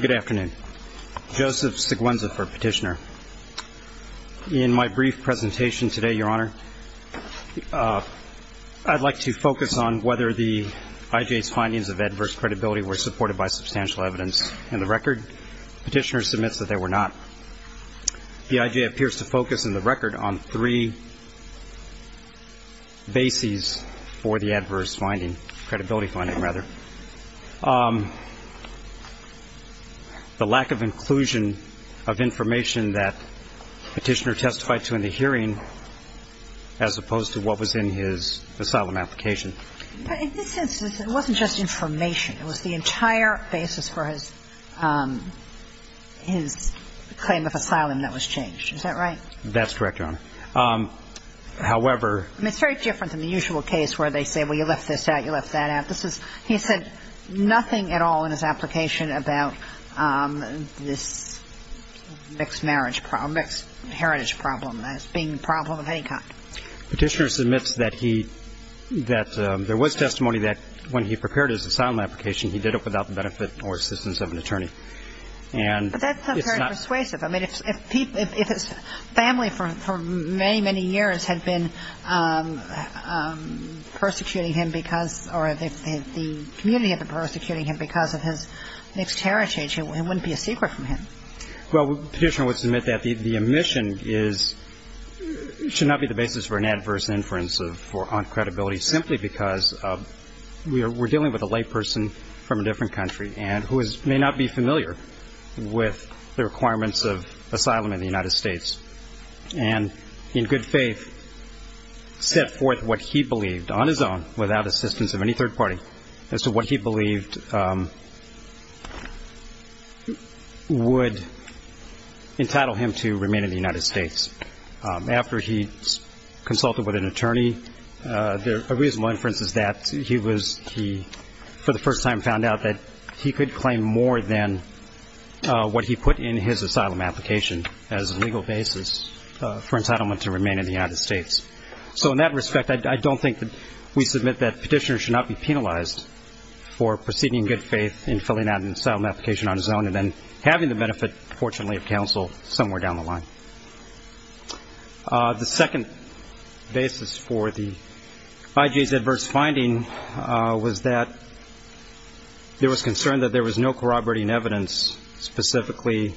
Good afternoon. Joseph Siguenza for Petitioner. In my brief presentation today, Your Honor, I'd like to focus on whether the I.J.'s findings of adverse credibility were supported by substantial evidence in the record. Petitioner submits that they were not. The I.J. appears to focus in the record on three bases for the adverse finding, credibility finding, rather. The lack of inclusion of information that Petitioner testified to in the hearing, as opposed to what was in his asylum application. But in this instance, it wasn't just information. It was the entire basis for his claim of asylum that was changed. Is that right? That's correct, Your Honor. However... It's very different than the usual case where they say, well, you left this out, you left that out. He said nothing at all in his application about this mixed marriage problem, mixed heritage problem as being a problem of any kind. Petitioner submits that there was testimony that when he prepared his asylum application, he did it without the benefit or assistance of an attorney. But that's not very persuasive. I mean, if his family for many, many years had been persecuting him because, or if the community had been persecuting him because of his mixed heritage, it wouldn't be a secret from him. Well, Petitioner would submit that the omission is, should not be the basis for an adverse inference on credibility, simply because we're dealing with a layperson from a different country and who may not be familiar with the requirements of asylum in the United States. And in good faith, set forth what he believed on his own without assistance of any third party as to what he believed would entitle him to remain in the United States. After he consulted with an attorney, a reasonable inference is that he, for the first time, found out that he could claim more than what he put in his asylum application as a legal basis for entitlement to remain in the United States. So in that respect, I don't think that we submit that Petitioner should not be penalized for proceeding in good faith in filling out an asylum application on his own and then having the benefit, fortunately, of counsel somewhere down the line. The second basis for the IJ's adverse finding was that there was concern that there was no corroborating evidence, specifically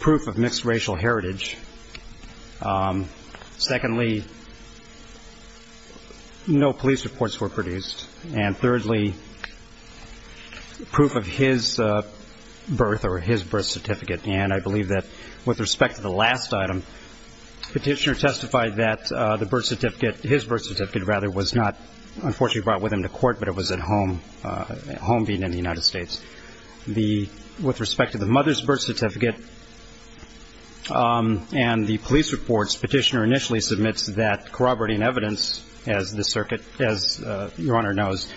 proof of mixed racial heritage. Secondly, no police reports were produced. And thirdly, proof of his birth or his birth certificate. And I believe that with respect to the last item, Petitioner testified that the birth certificate, his birth certificate, rather, was not unfortunately brought with him to court, but it was at home, at home being in the United States. With respect to the mother's birth certificate and the police reports, Petitioner initially submits that corroborating evidence, as the circuit, as Your Honor knows,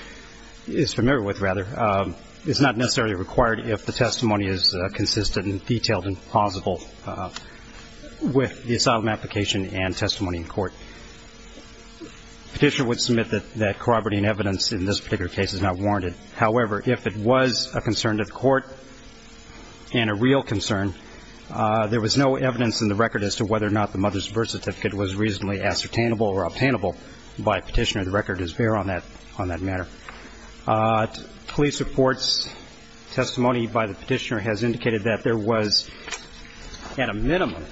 is familiar with, rather, is not necessarily required if the testimony is consistent and detailed and plausible with the asylum application and testimony in court. Petitioner would submit that corroborating evidence in this particular case is not warranted. However, if it was a concern to the court and a real concern, there was no evidence in the record as to whether or not the mother's birth certificate was reasonably ascertainable or obtainable by Petitioner. The record is bare on that matter. Police reports, testimony by the Petitioner has indicated that there was at a minimum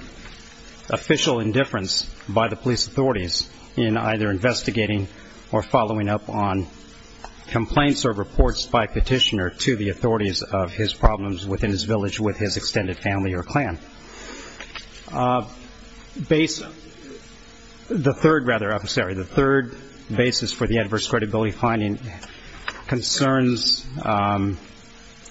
official indifference by the police authorities in either investigating or following up on complaints or reports by Petitioner to the authorities of his problems within his village with his extended family or clan. The third, rather, officer, the third basis for the adverse credibility finding concerns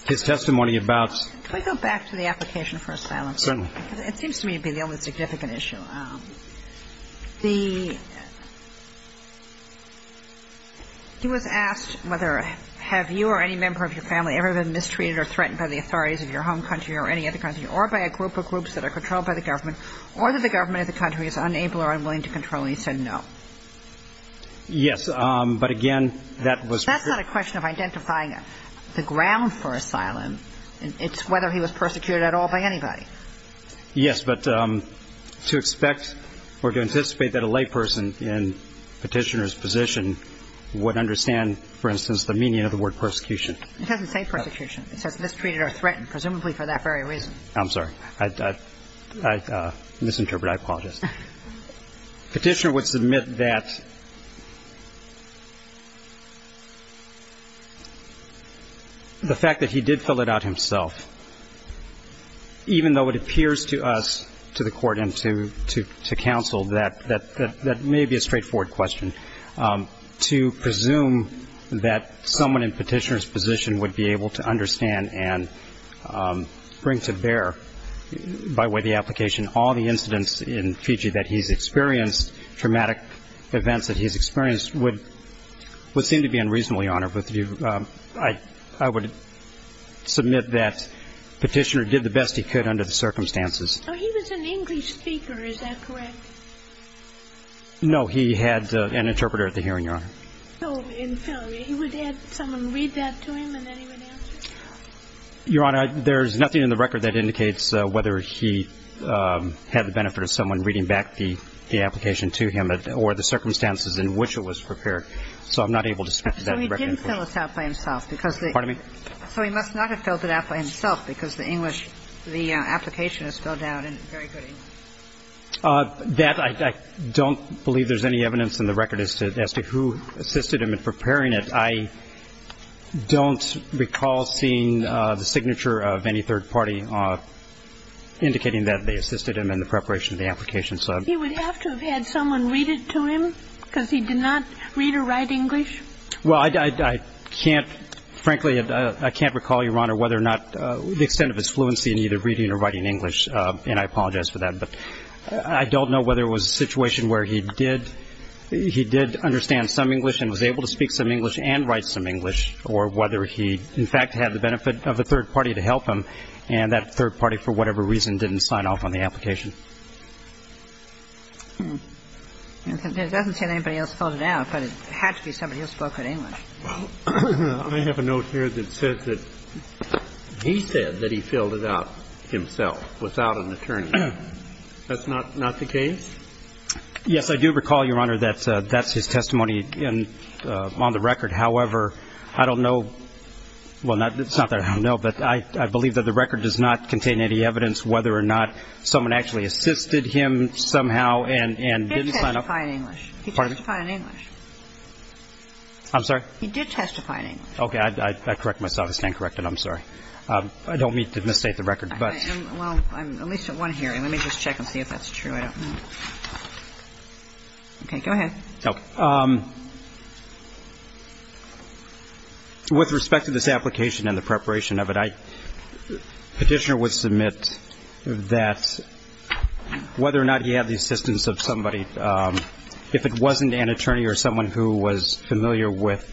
his testimony about. Can I go back to the application for asylum? Certainly. It seems to me to be the only significant issue. He was asked whether have you or any member of your family ever been mistreated or threatened by the authorities of your home country or any other country or by a group of groups that are controlled by the government or that the government of the country is unable or unwilling to control, and he said no. Yes. But, again, that was. That's not a question of identifying the ground for asylum. It's whether he was persecuted at all by anybody. Yes, but to expect or to anticipate that a layperson in Petitioner's position would understand, for instance, the meaning of the word persecution. It doesn't say persecution. It says mistreated or threatened, presumably for that very reason. I misinterpreted. I apologize. Petitioner would submit that the fact that he did fill it out himself, even though it appears to us, to the court and to counsel, that may be a straightforward question. To presume that someone in Petitioner's position would be able to understand and bring to bear by way of the application all the incidents in Fiji that he's experienced, traumatic events that he's experienced, would seem to be unreasonably honored with you. I would submit that Petitioner did the best he could under the circumstances. He was an English speaker. Is that correct? No. He had an interpreter at the hearing, Your Honor. So he would have someone read that to him and then he would answer? Your Honor, there's nothing in the record that indicates whether he had the benefit of someone reading back the application to him or the circumstances in which it was prepared. So I'm not able to speak to that in the record. So he didn't fill this out by himself because the – Pardon me? So he must not have filled it out by himself because the English, the application is spelled out in very good English. That I don't believe there's any evidence in the record as to who assisted him in preparing it. I don't recall seeing the signature of any third party indicating that they assisted him in the preparation of the application. He would have to have had someone read it to him because he did not read or write English? Well, I can't – frankly, I can't recall, Your Honor, whether or not – the extent of his fluency in either reading or writing English. And I apologize for that. But I don't know whether it was a situation where he did – he did understand some English and was able to speak some English and write some English or whether he, in fact, had the benefit of a third party to help him and that third party, for whatever reason, didn't sign off on the application. It doesn't say that anybody else filled it out, but it had to be somebody who spoke good English. Well, I have a note here that says that he said that he filled it out himself without an attorney. That's not the case? Yes, I do recall, Your Honor, that that's his testimony on the record. However, I don't know – well, it's not that I don't know, but I believe that the record does not contain any evidence whether or not someone actually assisted him. He assisted him somehow and didn't sign off. He did testify in English. Pardon me? He testified in English. I'm sorry? He did testify in English. Okay. I correct myself. I stand corrected. I'm sorry. I don't mean to misstate the record, but – Well, I'm at least at one hearing. Let me just check and see if that's true. I don't know. Okay. Go ahead. Okay. With respect to this application and the preparation of it, I – Petitioner would submit that whether or not he had the assistance of somebody, if it wasn't an attorney or someone who was familiar with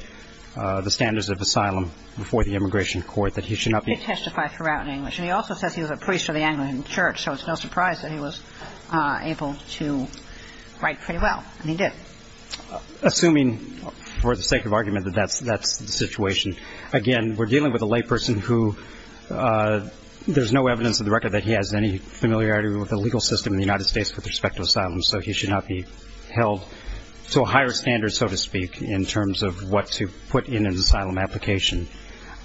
the standards of asylum before the immigration court, that he should not be – He testified throughout in English. And he also says he was a priest of the Anglican Church, so it's no surprise that he was able to write pretty well, and he did. Assuming, for the sake of argument, that that's the situation, again, we're dealing with a layperson who there's no evidence in the record that he has any familiarity with the legal system in the United States with respect to asylum, so he should not be held to a higher standard, so to speak, in terms of what to put in an asylum application.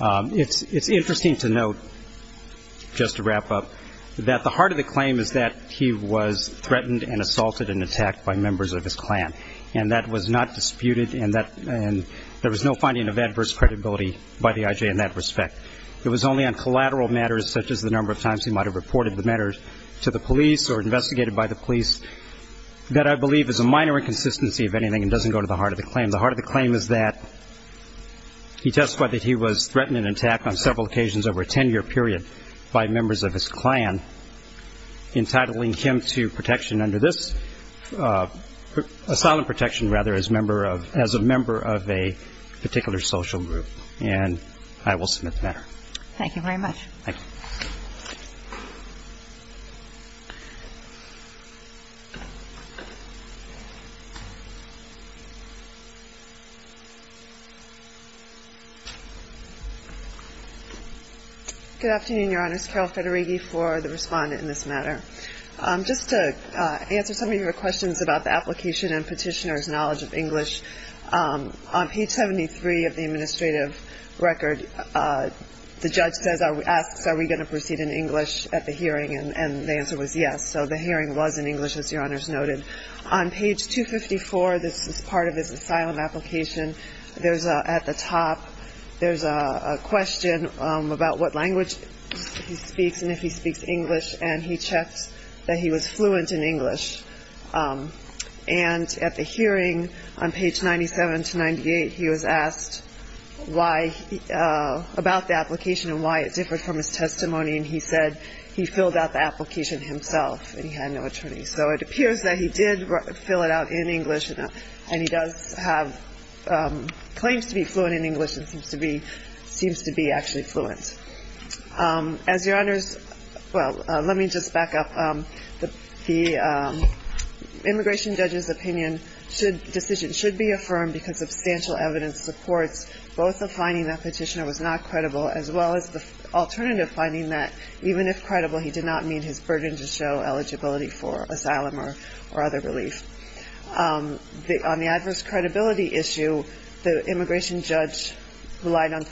It's interesting to note, just to wrap up, that the heart of the claim is that he was threatened and assaulted and attacked by members of his clan, and that was not disputed, and there was no finding of adverse credibility by the IJ in that respect. It was only on collateral matters, such as the number of times he might have reported the matters to the police or investigated by the police, that I believe is a minor inconsistency of anything and doesn't go to the heart of the claim. The heart of the claim is that he testified that he was threatened and attacked on several occasions over a ten-year period by members of his clan, entitling him to protection under this asylum protection, rather, as a member of a particular social group. And I will submit the matter. Thank you very much. Thank you. Good afternoon, Your Honors. Carol Federighi for the respondent in this matter. Just to answer some of your questions about the application and petitioner's knowledge of English, on page 73 of the administrative record, the judge asks are we going to proceed in English at the hearing, and the answer was yes, so the hearing was in English, as Your Honors noted. On page 254, this is part of his asylum application, there's at the top, there's a question about what language he speaks and if he speaks English, and he checks that he was fluent in English. And at the hearing, on page 97 to 98, he was asked why, about the application and why it differed from his testimony, and he said he filled out the application himself and he had no attorney. So it appears that he did fill it out in English, and he does have claims to be fluent in English and seems to be actually fluent. As Your Honors, well, let me just back up. The immigration judge's opinion, decision should be affirmed because substantial evidence supports both the finding that petitioner was not credible as well as the alternative finding that even if credible, he did not meet his burden to show eligibility for asylum or other relief. On the adverse credibility issue, the immigration judge relied on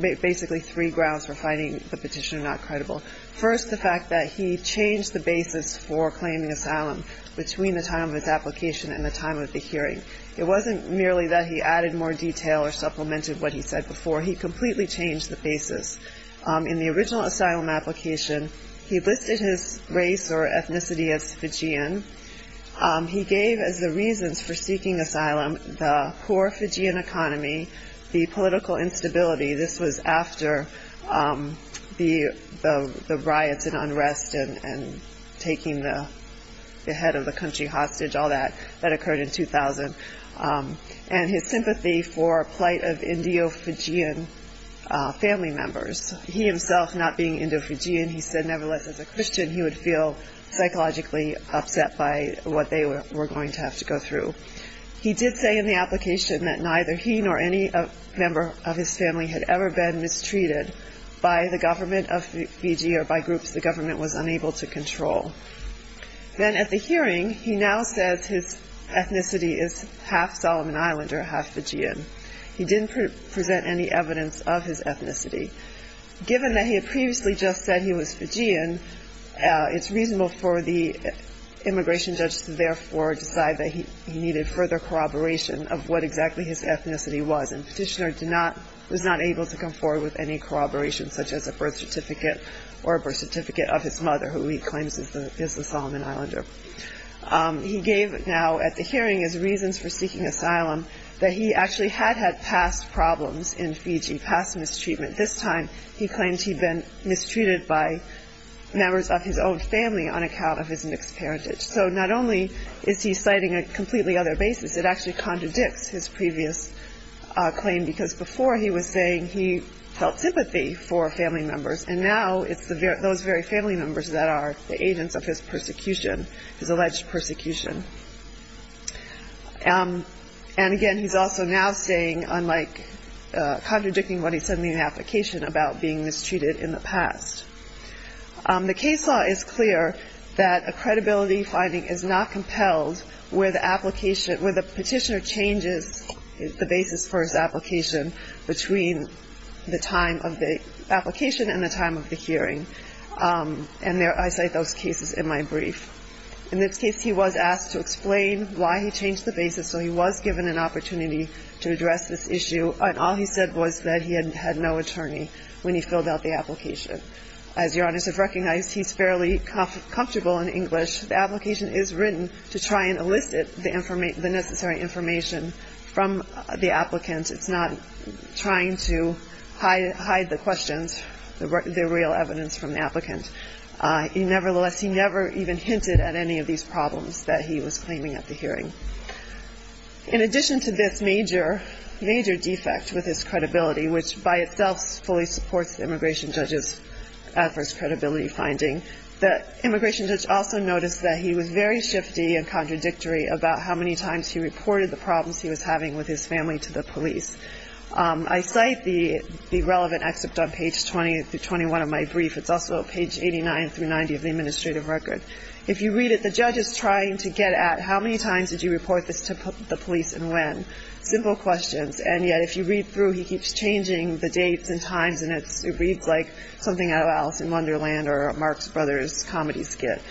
basically three grounds for finding the petitioner not credible. First, the fact that he changed the basis for claiming asylum between the time of his application and the time of the hearing. It wasn't merely that he added more detail or supplemented what he said before, he completely changed the basis. In the original asylum application, he listed his race or ethnicity as Fijian. He gave as the reasons for seeking asylum, the poor Fijian economy, the political instability. This was after the riots and unrest and taking the head of the country hostage, all that. That occurred in 2000. And his sympathy for plight of Indo-Fijian family members. He himself, not being Indo-Fijian, he said nevertheless as a Christian, he would feel psychologically upset by what they were going to have to go through. He did say in the application that neither he nor any member of his family had ever been mistreated by the government of Fiji or by groups the government was unable to control. Then at the hearing, he now said his ethnicity is half Solomon Island or half Fijian. Given that he had previously just said he was Fijian, it's reasonable for the immigration judge to therefore decide that he needed further corroboration of what exactly his ethnicity was. And Petitioner did not, was not able to come forward with any corroboration such as a birth certificate or a birth certificate of his mother, who he claims is the Solomon Islander. He gave now at the hearing his reasons for seeking asylum, that he actually had had past problems in Fiji, past mistreatment. This time, he claims he'd been mistreated by members of his own family on account of his mixed parentage. So not only is he citing a completely other basis, it actually contradicts his previous claim because before he was saying he felt sympathy for family members, and now it's those very family members that are the agents of his persecution, his alleged persecution. And again, he's also now contradicting what he said in the application about being mistreated in the past. The case law is clear that a credibility finding is not compelled where the petitioner changes the basis for his application between the time of the application and the time of the hearing. And I cite those cases in my brief. In this case, he was asked to explain why he changed the basis, so he was given an opportunity to address this issue, and all he said was that he had no attorney when he filled out the application. As Your Honors have recognized, he's fairly comfortable in English. The application is written to try and elicit the necessary information from the applicant. It's not trying to hide the questions, the real evidence from the applicant. Nevertheless, he never even hinted at any of these problems that he was claiming at the hearing. In addition to this major, major defect with his credibility, which by itself fully supports the immigration judge's adverse credibility finding, the immigration judge also noticed that he was very shifty and contradictory about how many times he reported the problems he was having with his family to the police. I cite the relevant excerpt on page 20 through 21 of my brief. It's also page 89 through 90 of the administrative record. If you read it, the judge is trying to get at how many times did you report this to the police and when. Simple questions, and yet if you read through, he keeps changing the dates and times, and it reads like something out of Alice in Wonderland or a Marx Brothers comedy skit.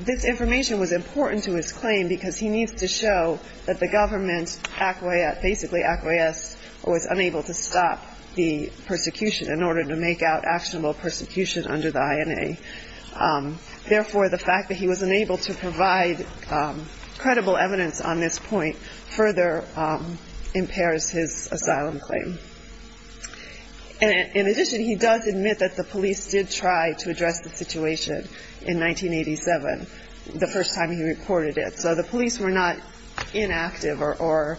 This information was important to his claim because he needs to show that the government acquiesced, or was unable to stop the persecution in order to make out actionable persecution under the INA. Therefore, the fact that he was unable to provide credible evidence on this point further impairs his asylum claim. In addition, he does admit that the police did try to address the situation in 1987, the first time he reported it. So the police were not inactive or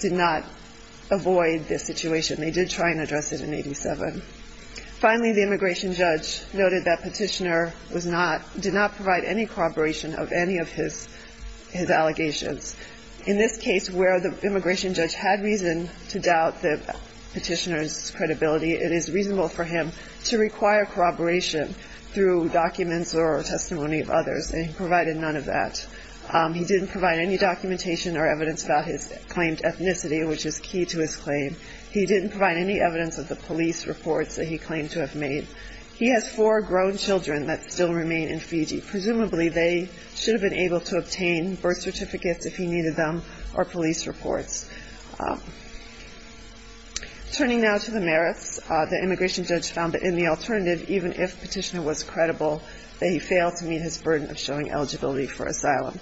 did not avoid this situation. They did try and address it in 1987. Finally, the immigration judge noted that Petitioner did not provide any corroboration of any of his allegations. In this case, where the immigration judge had reason to doubt Petitioner's credibility, it is reasonable for him to require corroboration through documents or testimony of others, and he provided none of that. He didn't provide any documentation or evidence about his claimed ethnicity, which is key to his claim. He didn't provide any evidence of the police reports that he claimed to have made. He has four grown children that still remain in Fiji. Presumably, they should have been able to obtain birth certificates if he needed them or police reports. Turning now to the merits, the immigration judge found that in the alternative, even if Petitioner was credible, that he failed to meet his burden of showing eligibility for asylum.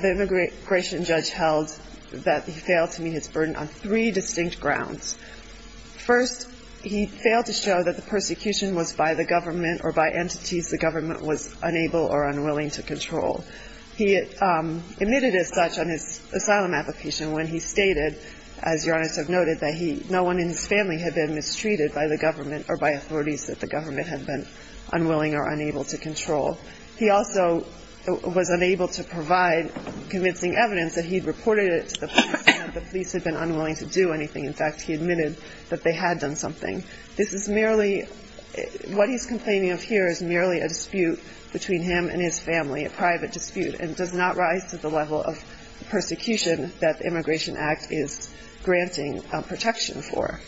The immigration judge held that he failed to meet his burden on three distinct grounds. First, he failed to show that the persecution was by the government or by entities the government was unable or unwilling to control. He admitted as such on his asylum application when he stated, as your Honors have noted, that no one in his family had been mistreated by the government or by authorities that the government had been unwilling or unable to control. He also was unable to provide convincing evidence that he had reported it to the police and that the police had been unwilling to do anything. In fact, he admitted that they had done something. What he's complaining of here is merely a dispute between him and his family, a private dispute, and does not rise to the level of persecution that the Immigration Act is granting protection for.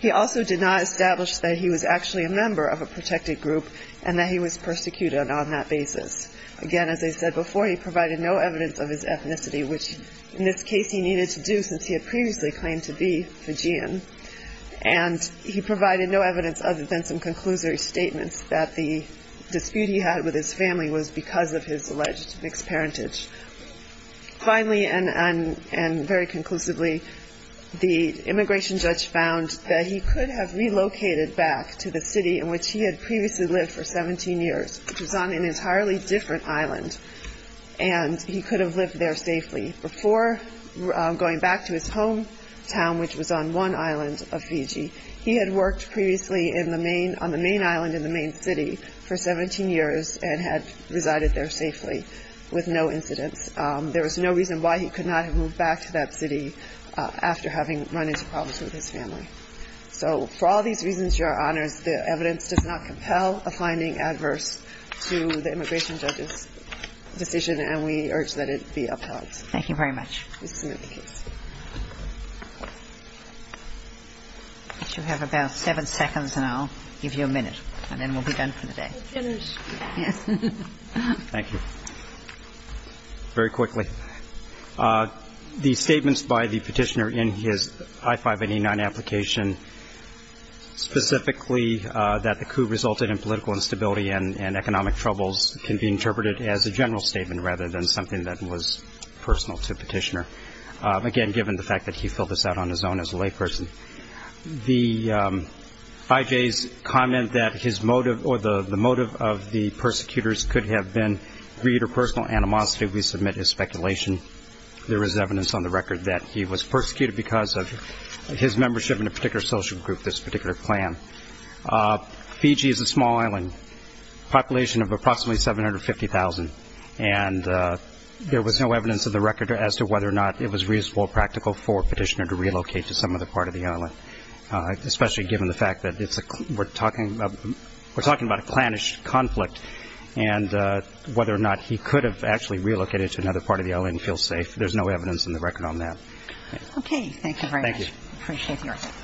He also did not establish that he was actually a member of a protected group and that he was persecuted on that basis. Again, as I said before, he provided no evidence of his ethnicity, which in this case he needed to do since he had previously claimed to be Fijian. And he provided no evidence other than some conclusory statements that the dispute he had with his family was because of his alleged mixed parentage. Finally, and very conclusively, the immigration judge found that he could have relocated back to the city in which he had previously lived for 17 years, which was on an entirely different island, and he could have lived there safely before going back to his hometown, which was on one island of Fiji. He had worked previously on the main island in the main city for 17 years and had resided there safely with no incidents. There was no reason why he could not have moved back to that city after having run into problems with his family. So for all these reasons, Your Honors, the evidence does not compel a finding adverse to the immigration judge's decision, and we urge that it be upheld. Thank you very much. We submit the case. You have about seven seconds, and I'll give you a minute, and then we'll be done for the day. We'll finish. Yes. Thank you. Very quickly. The statements by the petitioner in his I-589 application, specifically that the coup resulted in political instability and economic troubles, can be interpreted as a general statement rather than something that was personal to the petitioner, again, given the fact that he filled this out on his own as a layperson. The IJ's comment that his motive or the motive of the persecutors could have been greed or personal animosity, we submit his speculation. There is evidence on the record that he was persecuted because of his membership in a particular social group, this particular plan. Fiji is a small island, population of approximately 750,000, and there was no evidence on the record as to whether or not it was reasonable or practical for a petitioner to relocate to some other part of the island, especially given the fact that we're talking about a clannish conflict and whether or not he could have actually relocated to another part of the island and feel safe. There's no evidence on the record on that. Okay. Thank you very much. Thank you. Appreciate your help.